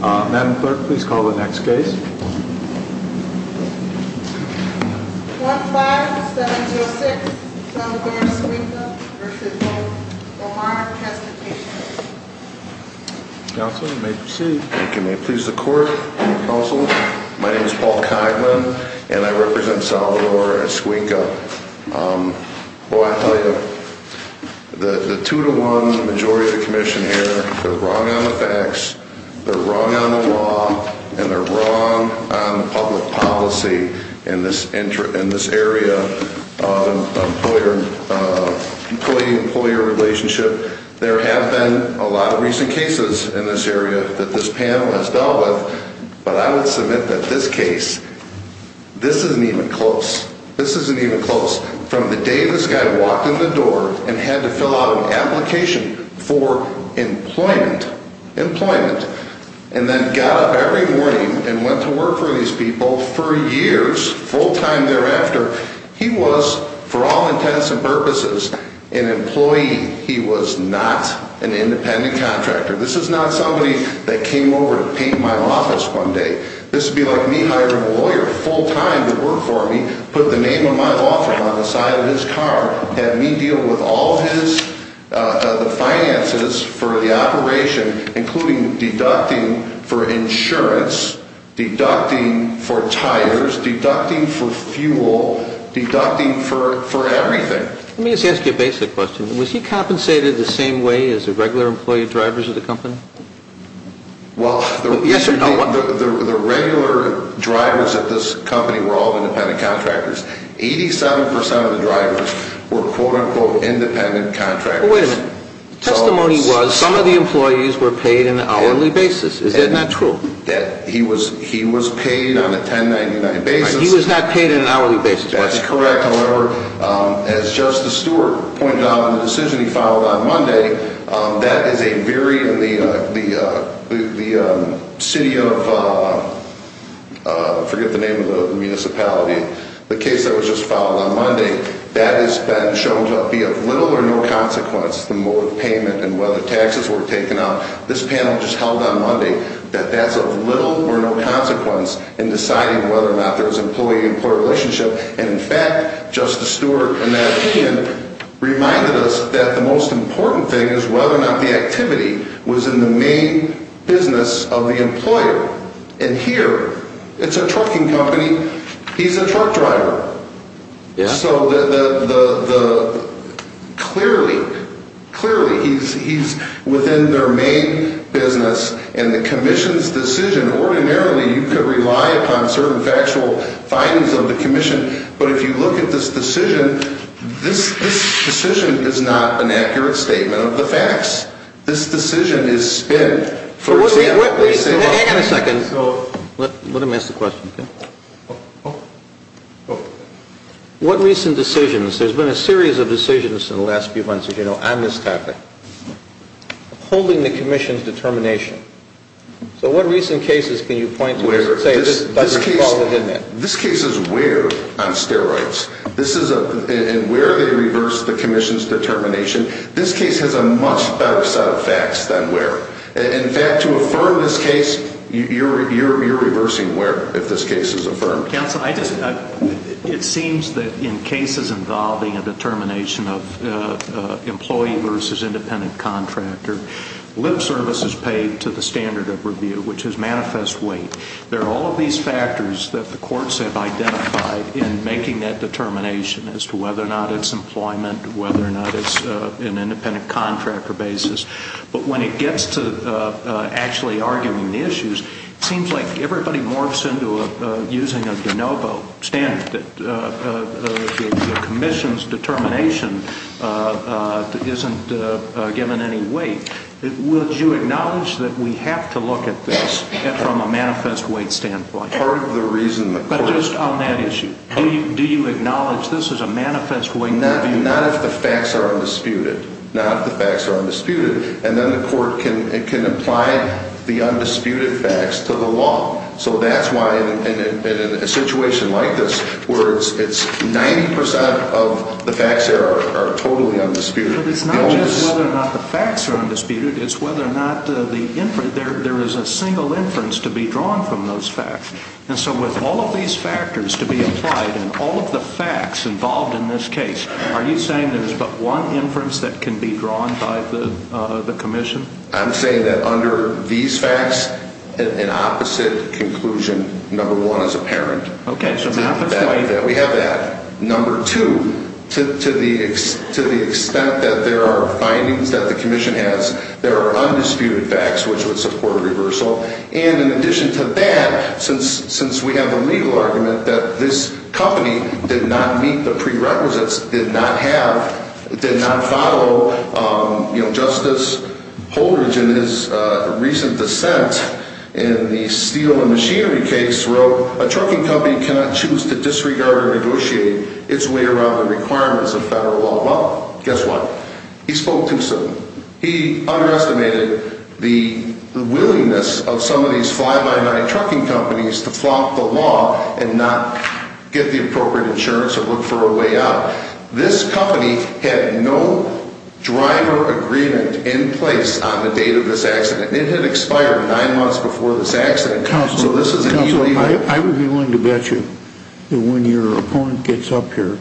Madam Clerk, please call the next case. 1-5706 Salvador Esquinca v. Hope for Hard Transportation Counselor, you may proceed. Thank you. May it please the Court, Counsel? My name is Paul Kogman, and I represent Salvador Esquinca. Well, I'll tell you, the 2-1 majority of the commission here, they're wrong on the facts. They're wrong on the law, and they're wrong on public policy in this area of employee-employer relationship. There have been a lot of recent cases in this area that this panel has dealt with, but I would submit that this case, this isn't even close. This isn't even close. From the day this guy walked in the door and had to fill out an application for employment, and then got up every morning and went to work for these people for years, full-time thereafter, he was, for all intents and purposes, an employee. He was not an independent contractor. This is not somebody that came over to paint my office one day. This would be like me hiring a lawyer full-time to work for me, put the name of my law firm on the side of his car, have me deal with all of the finances for the operation, including deducting for insurance, deducting for tires, deducting for fuel, deducting for everything. Let me just ask you a basic question. Was he compensated the same way as the regular employee drivers of the company? Well, the regular drivers of this company were all independent contractors. Eighty-seven percent of the drivers were, quote-unquote, independent contractors. Wait a minute. Testimony was some of the employees were paid on an hourly basis. Is that not true? He was paid on a 1099 basis. He was not paid on an hourly basis. That's correct. However, as Justice Stewart pointed out in the decision he filed on Monday, that is a very, the city of, I forget the name of the municipality, the case that was just filed on Monday, that has been shown to be of little or no consequence, the mode of payment and whether taxes were taken out. This panel just held on Monday that that's of little or no consequence in deciding whether or not there was an employee-employee relationship. And in fact, Justice Stewart, in that opinion, reminded us that the most important thing is whether or not the activity was in the main business of the employer. And here, it's a trucking company. He's a truck driver. Yeah. So the, clearly, clearly he's within their main business. And the commission's decision, ordinarily, you could rely upon certain factual findings of the commission. But if you look at this decision, this decision is not an accurate statement of the facts. This decision is spent, for example, Wait a second. Let him ask the question, okay? Okay. What recent decisions, there's been a series of decisions in the last few months, as you know, on this topic, holding the commission's determination. So what recent cases can you point to that say, this case is weird on steroids. This is a, and where they reverse the commission's determination, this case has a much better set of facts than where. In fact, to affirm this case, you're reversing where, if this case is affirmed. Counsel, I just, it seems that in cases involving a determination of employee versus independent contractor, lip service is paid to the standard of review, which is manifest weight. There are all of these factors that the courts have identified in making that determination as to whether or not it's employment, whether or not it's an independent contractor basis. But when it gets to actually arguing the issues, it seems like everybody morphs into using a de novo standard. The commission's determination isn't given any weight. Would you acknowledge that we have to look at this from a manifest weight standpoint? Part of the reason the court. But just on that issue. Do you acknowledge this is a manifest weight? Not if the facts are undisputed. Not if the facts are undisputed. And then the court can apply the undisputed facts to the law. So that's why in a situation like this, where it's 90% of the facts there are totally undisputed. But it's not just whether or not the facts are undisputed, it's whether or not there is a single inference to be drawn from those facts. And so with all of these factors to be applied and all of the facts involved in this case, are you saying there's but one inference that can be drawn by the commission? I'm saying that under these facts, an opposite conclusion, number one, is apparent. Okay, so manifest weight. We have that. Number two, to the extent that there are findings that the commission has, there are undisputed facts which would support reversal. And in addition to that, since we have a legal argument that this company did not meet the prerequisites, did not follow justice Holdridge in his recent dissent in the steel and machinery case, wrote, a trucking company cannot choose to disregard or negotiate its way around the requirements of federal law. Well, guess what? He spoke too soon. He underestimated the willingness of some of these fly-by-night trucking companies to flop the law and not get the appropriate insurance or look for a way out. This company had no driver agreement in place on the date of this accident. It had expired nine months before this accident. Counselor, I would be willing to bet you that when your opponent gets up here,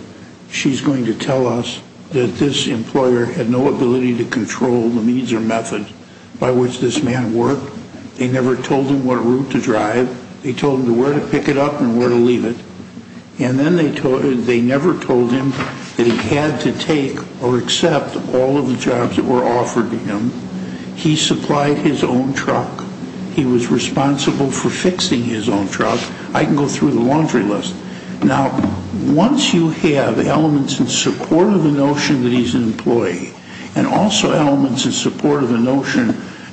she's going to tell us that this employer had no ability to control the means or method by which this man worked They never told him what route to drive. They told him where to pick it up and where to leave it. And then they never told him that he had to take or accept all of the jobs that were offered to him. He supplied his own truck. He was responsible for fixing his own truck. I can go through the laundry list. Now, once you have elements in support of the notion that he's an employee and also elements in support of the notion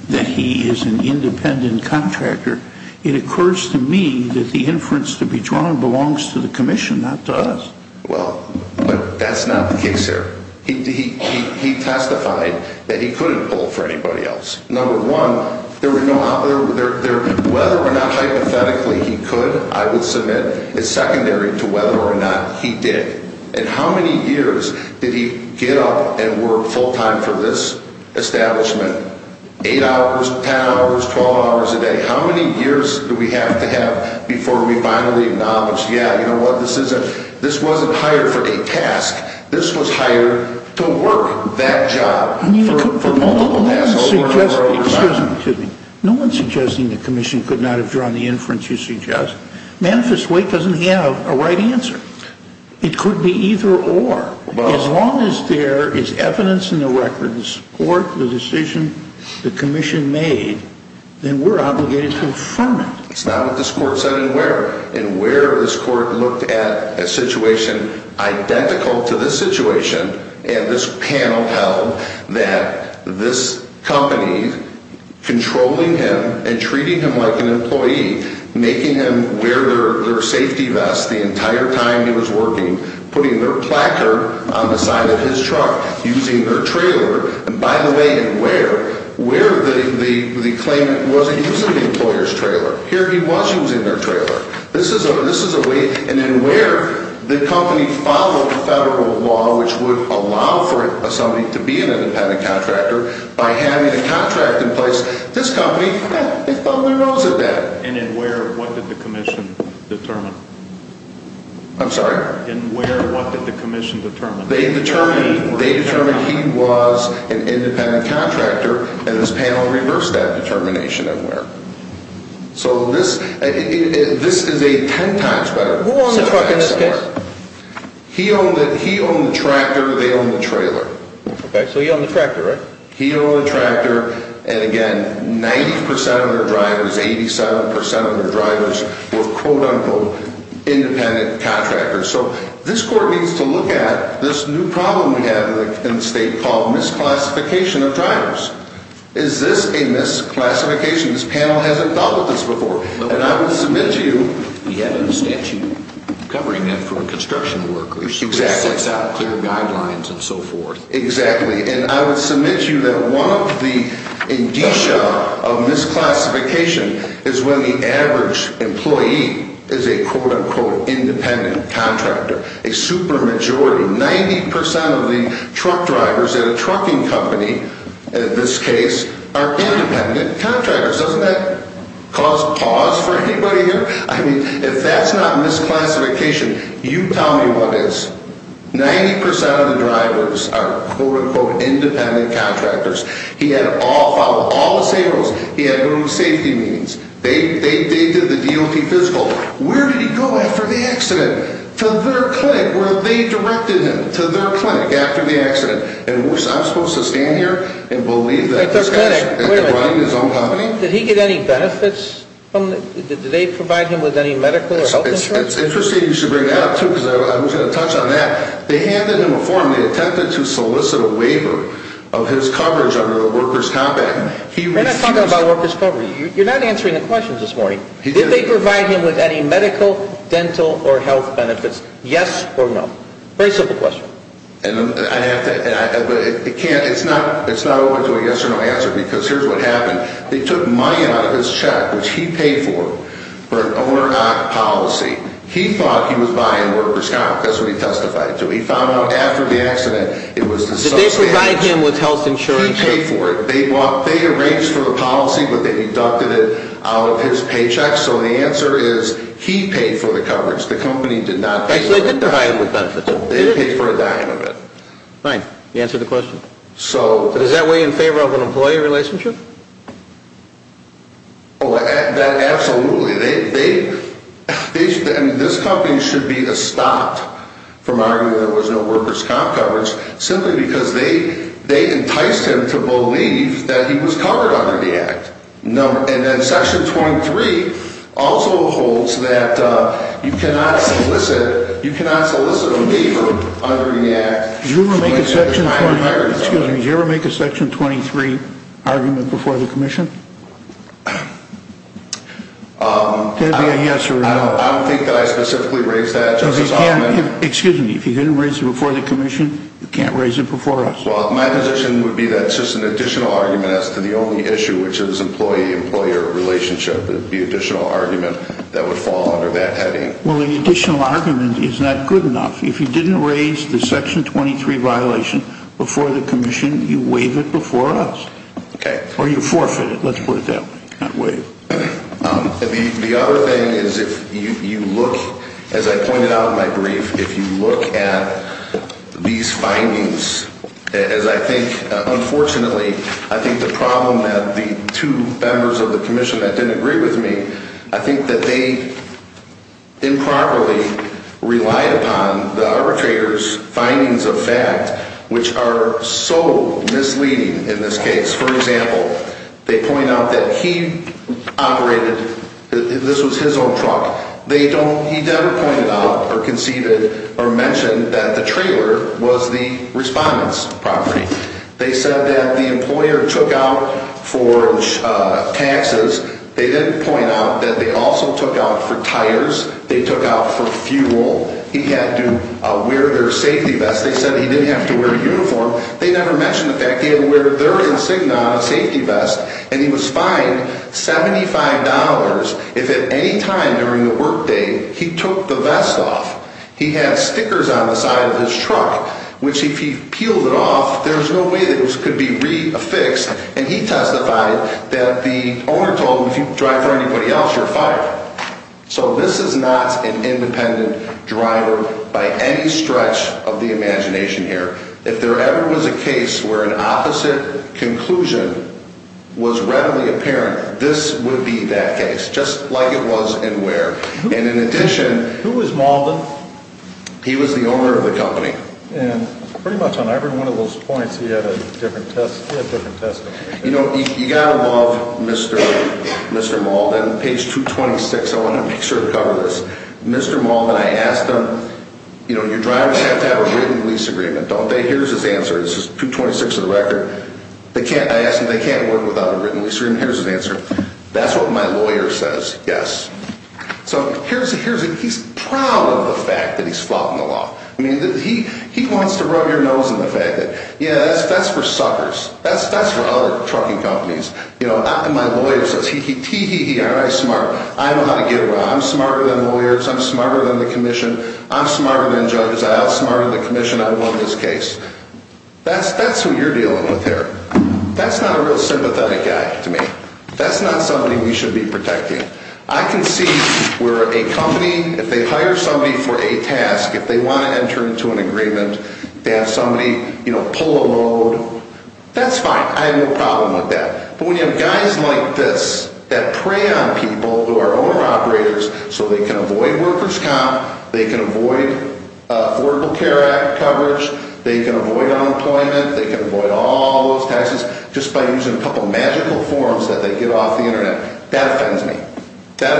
that he is an independent contractor, it occurs to me that the inference to be drawn belongs to the Commission, not to us. Well, that's not the case here. He testified that he couldn't pull for anybody else. Number one, whether or not hypothetically he could, I would submit it's secondary to whether or not he did. And how many years did he get up and work full-time for this establishment 8 hours, 10 hours, 12 hours a day? How many years do we have to have before we finally acknowledge, yeah, you know what, this wasn't hired for a task. This was hired to work that job for multiple tasks over and over and over again. Excuse me. No one's suggesting the Commission could not have drawn the inference you suggest. Manifest Weight doesn't have a right answer. It could be either or. As long as there is evidence in the records to support the decision the Commission made, then we're obligated to affirm it. It's not what this Court said anywhere. And where this Court looked at a situation identical to this situation, and this panel held that this company controlling him and treating him like an employee, making him wear their safety vest the entire time he was working, putting their placard on the side of his truck, using their trailer, and by the way, in where, where the claimant wasn't using the employer's trailer. Here he was using their trailer. This is a way, and in where the company followed federal law which would allow for somebody to be an independent contractor by having the contract in place, this company, they felt their nose at that. And in where, what did the Commission determine? I'm sorry? In where, what did the Commission determine? They determined, they determined he was an independent contractor, and this panel reversed that determination in where. So this, this is a ten times better... Who owned the truck in this case? He owned the, he owned the tractor, they owned the trailer. Okay, so he owned the tractor, right? He owned the tractor, and again, 90% of their drivers, 87% of their drivers were quote-unquote independent contractors. So this court needs to look at this new problem we have in the state called misclassification of drivers. Is this a misclassification? This panel hasn't dealt with this before. And I would submit to you... He had a statute covering that for construction workers. Exactly. It sets out clear guidelines and so forth. Exactly, and I would submit to you that one of the indicia of misclassification is when the average employee is a quote-unquote independent contractor. A super majority, 90% of the truck drivers at a trucking company, in this case, are independent contractors. Doesn't that cause pause for anybody here? I mean, if that's not misclassification, you tell me what is. 90% of the drivers are quote-unquote independent contractors. He had all, followed all the same rules. He had group safety meetings. They did the DOT physical. Where did he go after the accident? To their clinic where they directed him. To their clinic after the accident. And I'm supposed to stand here and believe that this guy is running his own company? Did he get any benefits? Did they provide him with any medical or health insurance? It's interesting you should bring that up too because I was going to touch on that. They handed him a form. They attempted to solicit a waiver of his coverage under the workers' compact. We're not talking about workers' coverage. I'm asking the questions this morning. Did they provide him with any medical, dental, or health benefits? Yes or no? Very simple question. It's not open to a yes or no answer because here's what happened. They took money out of his check, which he paid for, for an owner-of-the-stock policy. He thought he was buying workers' stock because of what he testified to. He found out after the accident it was the subsidy. Did they provide him with health insurance? They took money out of his paycheck. The answer is he paid for the coverage. The company did not pay for it. They did provide him with benefits. They paid for a dime of it. Fine. You answered the question. Does that weigh in favor of an employee relationship? Absolutely. This company should be stopped from arguing there was no workers' comp coverage simply because they enticed him to believe that he was covered under the Act. And then Section 24, Section 23 also holds that you cannot solicit a waiver under the Act. Excuse me. Did you ever make a Section 23 argument before the Commission? Did it be a yes or a no? I don't think I specifically raised that, Justice Altman. Excuse me. If you didn't raise it before the Commission, you can't raise it before us. Well, my position would be that it's just an additional argument as to the only issue, the additional argument that would fall under that heading. Well, an additional argument is not good enough. If you didn't raise the Section 23 violation before the Commission, you waive it before us. Or you forfeit it. Let's put it that way. The other thing is if you look, as I pointed out in my brief, if you look at these findings, as I think, unfortunately, I think the problem that the arbitrators disagree with me, I think that they improperly relied upon the arbitrators' findings of fact, which are so misleading in this case. For example, they point out that he operated, this was his own truck, he never pointed out or conceded or mentioned that the trailer was the respondent's property. They said that the employer took out for taxes. They didn't point out that they also took out for tires. They took out for fuel. He had to wear their safety vest. They said he didn't have to wear a uniform. They never mentioned the fact that he had to wear their insignia on a safety vest, and he was fined $75 if at any time during the workday he took the vest off. He had stickers on the side of his truck, which if he peeled it off, there was no way for anybody else, you're fired. So this is not an independent driver by any stretch of the imagination here. If there ever was a case where an opposite conclusion was readily apparent, this would be that case, just like it was in Ware. And in addition... Who was Malden? He was the owner of the company. And pretty much on every one of those points, he had a different testimony. You know, you've got to love Mr. Malden. Page 226, I want to make sure to cover this. Mr. Malden, I asked him, you know, your drivers have to have a written lease agreement, don't they? Here's his answer. This is 226 of the record. I asked him, they can't work without a written lease agreement. Here's his answer. That's for suckers. That's for other trucking companies. You know, my lawyer says, tee hee hee, aren't I smart? I know how to get around. I'm smarter than lawyers, I'm smarter than the commission, I'm smarter than Judge Aisle, smarter than the commission, I won this case. That's who you're dealing with here. That's not a real sympathetic guy to me. That's not somebody we should be protecting. I can see where a company, you know, that's fine, I have no problem with that. But when you have guys like this that prey on people who are owner operators so they can avoid worker's comp, they can avoid Affordable Care Act coverage, they can avoid unemployment, they can avoid all those taxes just by using a couple of magical forms that they get off the internet, that offends me. That's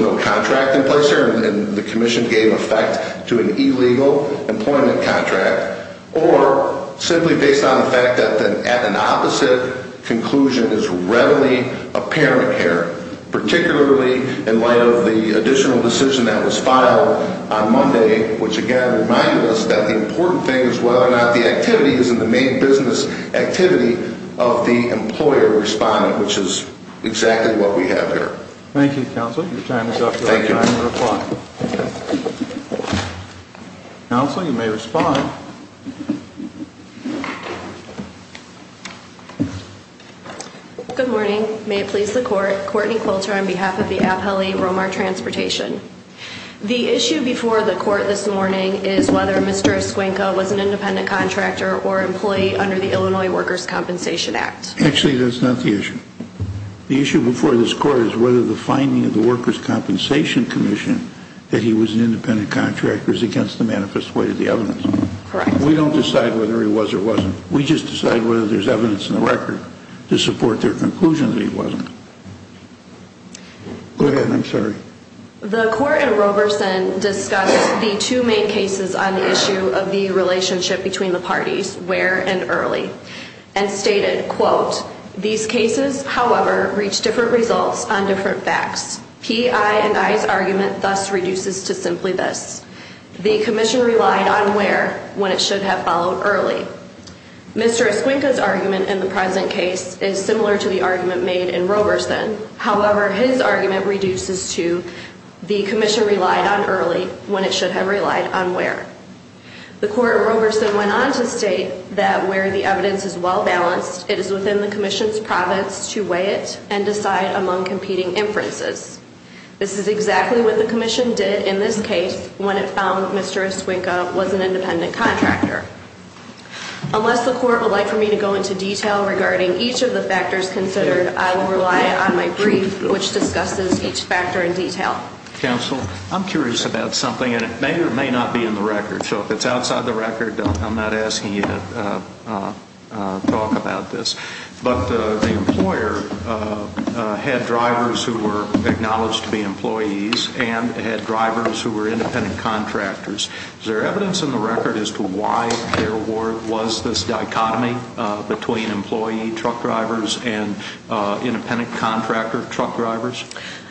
not a contract in place here and the commission gave effect to an illegal employment contract or simply based on the fact that an opposite conclusion is readily apparent here, particularly in light of the additional decision that was filed on Monday, which again reminded us that the important thing is whether or not the activity is in the main business activity of the employer responding, which is exactly what we have here. Thank you. Thank you. Counsel, you may respond. Good morning. May it please the court, Courtney Quilter on behalf of the Appellee Romar Transportation. The issue before the court this morning is whether Mr. Escuenco was an independent contractor or employee under the Illinois Workers Compensation Act. It was stated in the commission that he was an independent contractor against the manifest way of the evidence. We don't decide whether he was or wasn't. We just decide whether there's evidence in the record to support their conclusion that he wasn't. Go ahead. I'm sorry. The court in Roberson discussed the two main cases on the issue of the manifest way of the evidence. Mr. Escuenco's argument thus reduces to simply this. The commission relied on where when it should have followed early. Mr. Escuenco's argument in the present case is similar to the argument made in Roberson. However, his argument reduces to the commission relied on early when it should have relied on where. The court in Roberson went on to state that exactly what the commission did in this case when it found Mr. Escuenco was an independent contractor. Unless the court would like for me to go into detail regarding each of the factors considered, I will rely on my brief which discusses each factor in detail. Counsel, I'm curious about something and it may or may not be in the record. So if it's outside the record, I'm not asking you to look at the record. was any evidence in the record that Mr. Escuenco's client had drivers who were independent contractors. Is there evidence in the record as to why there was this dichotomy between independent contractor truck drivers?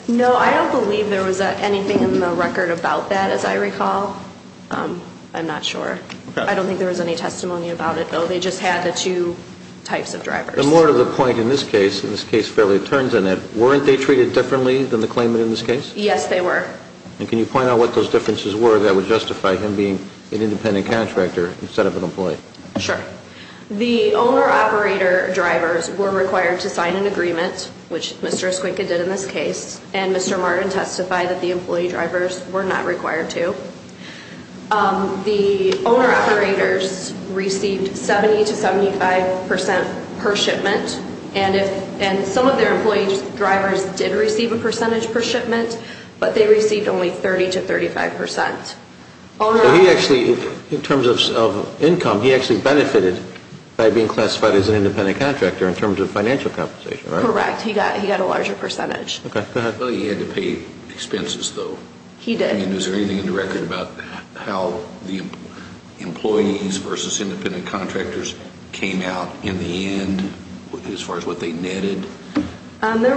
No, I don't believe there was anything in the record about that, as I recall. I'm not sure. I don't think there was any testimony about it, though. They just had the two types of drivers. But more to the point, in this case, in this case fairly turns in it, weren't they treated differently than the claimant in this case? Yes, they were. And can you point out what those differences were that would justify him being an independent contractor instead of an employee? Sure. The owner-operator drivers were required to sign an agreement, which Mr. Escuenco did in this case, and Mr. Martin testified that the owner-operator drivers were not required to. The owner-operators received 70 to 75 percent per shipment, and some of their employee drivers did receive a percentage per shipment, but they received only 30 to 35 percent. So he actually, in terms of income, he actually benefited by being classified as an independent contractor in terms of financial He got a larger percentage. Okay. Go ahead. Well, he had to pay expenses, though. He did. He had to pay expenses. He had to pay expenses. Okay. And is there anything in the record about how the employees versus independent contractors came out in the end as far as what they netted? There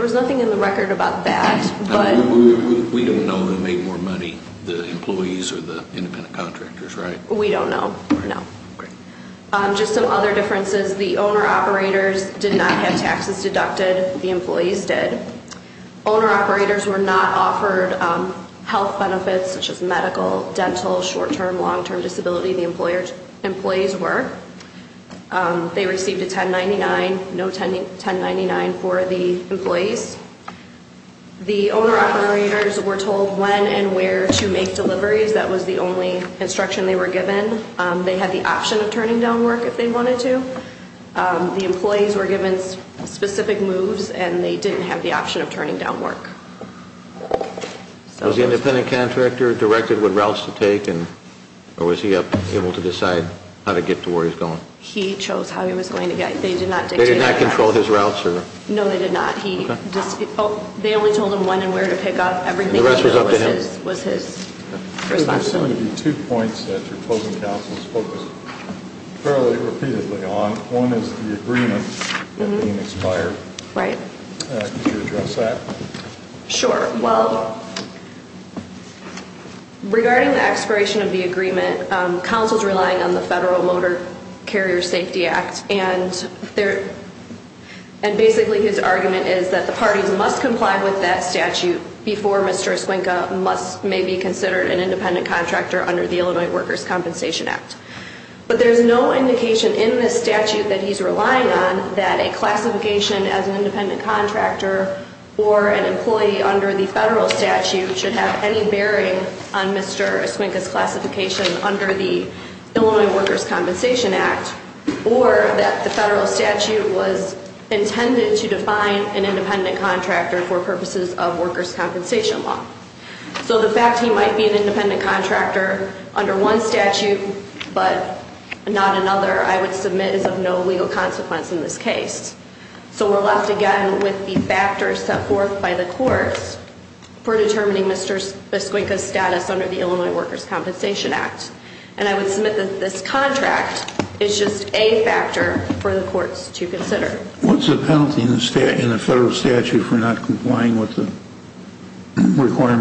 was nothing in the record about that, but We don't know who made more money, the employees or the independent contractors, right? We don't know, no. Great. Just some other The employees did. Owner-operators were not offered tax deductions. The owner-operators did not have taxes deducted. The employees did. Owner-operators were not offered health benefits such as medical, dental, short-term, long-term disability. The employees were. They received a 1099, no 1099 for the employees. The owner-operators were told when and where to make deliveries. That was the only instruction they were given. work if they wanted to. The employees were given specific moves and they didn't have the option of turning down work. So the employees were told when and where to make However, the independent contractor directed what routes to take or was he able to decide how to get to where he was going? He chose how he was going to get. They did not dictate. They did not control his routes? No, they did not. They only told him when and where to pick up and everything else was his responsibility. There are some points that your closing counsel has focused fairly repeatedly on. One is the agreement being expired. Could you address that? Sure. Well, regarding the expiration of the agreement, counsel is relying on the Federal Motor Carrier Safety Act and basically his argument is that the parties must comply with that statute before Mr. Esquinka may be considered an contractor under the Illinois Workers Compensation Act. But there's no indication in this statute that he's relying on that a classification as an independent contractor or an employee under the Federal Statute should have any bearing on Mr. Esquinka's classification under the Illinois Workers Compensation Act. So the fact he might be an independent contractor under one statute but not another, I would submit is of no legal consequence in this case. So we're left again with the factors set forth by the courts for determining Mr. Esquinka's status under the Illinois Workers Compensation Act. And I would submit that this is not a requirement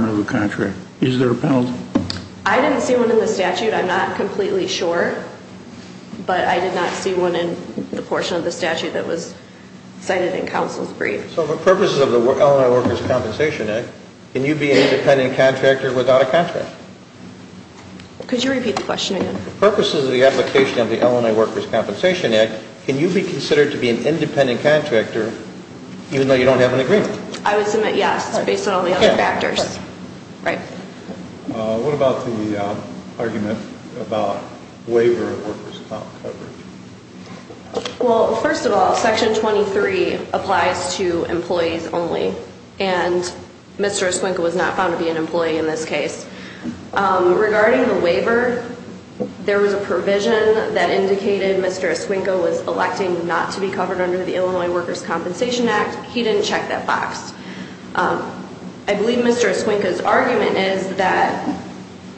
of the contract. Is there a penalty? I didn't see one in the statute. I'm not completely sure, but I did not see one in the portion of the statute that was cited in counsel's brief. So for purposes of the Illinois Workers Compensation Act, can you be an independent contractor even though you don't have an agreement? I would submit yes, based on all the other factors. Right. What about the argument about waiver of workers' coverage? Well, first of all, Section 23 applies to employees only, and Mr. Esquinka was not found to be an employee in this case. Regarding the waiver, there was a provision that indicated Mr. Esquinka was electing not to be covered under the Illinois Workers Compensation Act. He didn't check that box. I believe Mr. Esquinka's argument is that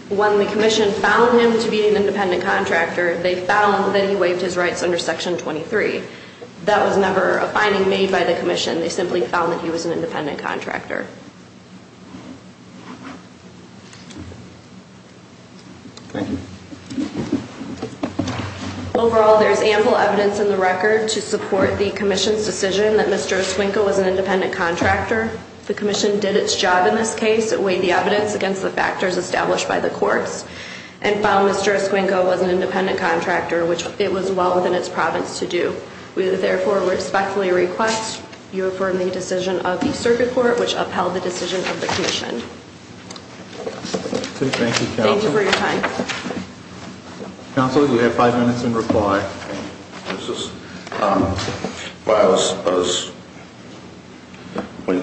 when the commission found him to be an independent contractor, they found that he was not independent contractor. They simply found that he was an independent contractor. Thank you. Overall, there is ample evidence in the record to support the commission's decision that Mr. Esquinka was an independent contractor. The commission did its job in this case and weighed the evidence against the factors established by the courts and found Mr. Esquinka was an independent contractor, which it was well within its province to do. We therefore respectfully request you affirm the decision of the circuit court, which upheld the decision of the commission. Thank you for your time. Counsel, you have five minutes in reply.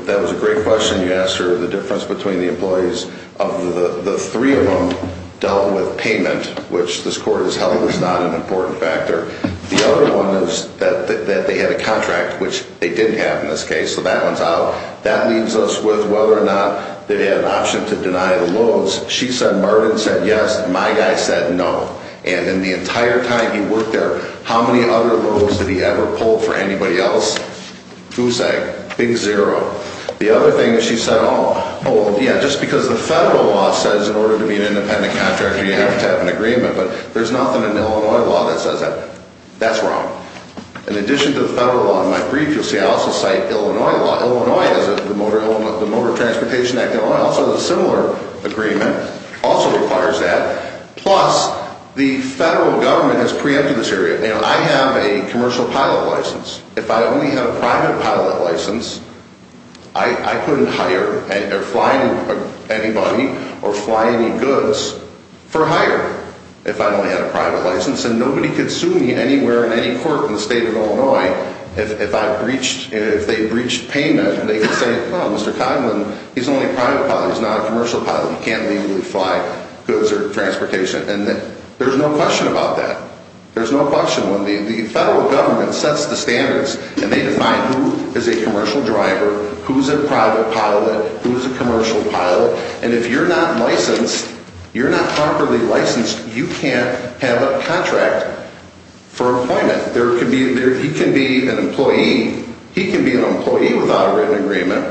That was a great question. You asked her the difference between the employees. The three of them dealt with payment, which this court has held was not an important factor. The other one is that they had a contract, which they had to sign. And in the entire time he worked there, how many other roles did he ever pull for anybody else? Who's saying? Big zero. The other thing is she said, oh, well, yeah, just because the federal law says in order to be an independent contractor, you have to have an agreement. But there's nothing in Illinois law that says that. That's wrong. In addition to the federal law, in my brief, you'll see I also cite Illinois law. Illinois has the Motor Transportation Act, Illinois also has a similar agreement, also requires that. Plus, the federal government has preempted this area. I have a commercial pilot license. If I only had a private pilot license, I couldn't hire or fly anybody or fly any goods for hire if I only had a private license. And nobody could sue me anywhere in any court in the state of Illinois if they breached payment. They could say, oh, Mr. President, hire or fly. There's no question about that. The federal government sets the standards and they define who is a commercial driver, who's a private pilot, who's a commercial pilot, and if you're not properly licensed, you can't have a contract for employment. He can be an employee without a written agreement,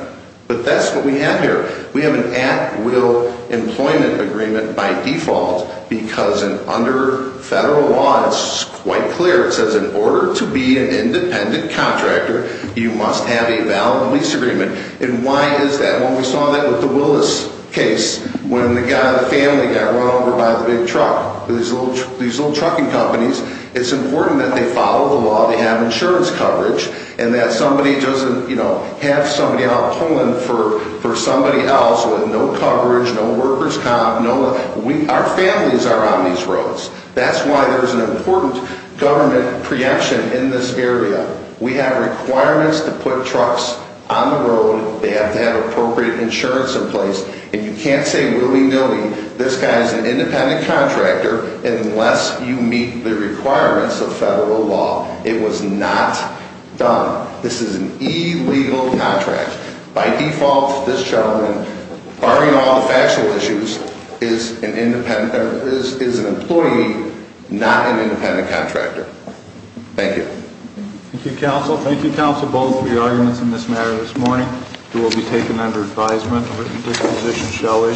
but that's what we have here. We have an at-will employment agreement by default because under federal law, it's quite clear, it says in order to be an independent contractor, you must have a valid lease agreement. And why is that? Well, we saw that with the Willis case, when the family got run over by the big truck, these little trucking companies, it's important that they follow the law, they have insurance coverage, and that somebody doesn't, you know, have somebody out pulling for somebody else with no coverage, no workers' comp, our families are on these roads. That's why there's an important government projection in this area. We have to make sure that we have an independent contractor unless you meet the requirements of federal law. It was not done. This is an illegal contract. By default, this gentleman, barring all the factual issues, is an employee, not an independent contractor. Thank you. Thank you, counsel. Thank you, counsel, both for your arguments in this matter your testimony this morning. He will be taken under advisement and this morning. He will be taken under advisement, and his position shall issue. And I'm quite confident of his ability to be an independent Thank you, thank you. Thank you. Thank you very much. Thank you, thank you. Thank you. thank you, thank you. Thank you very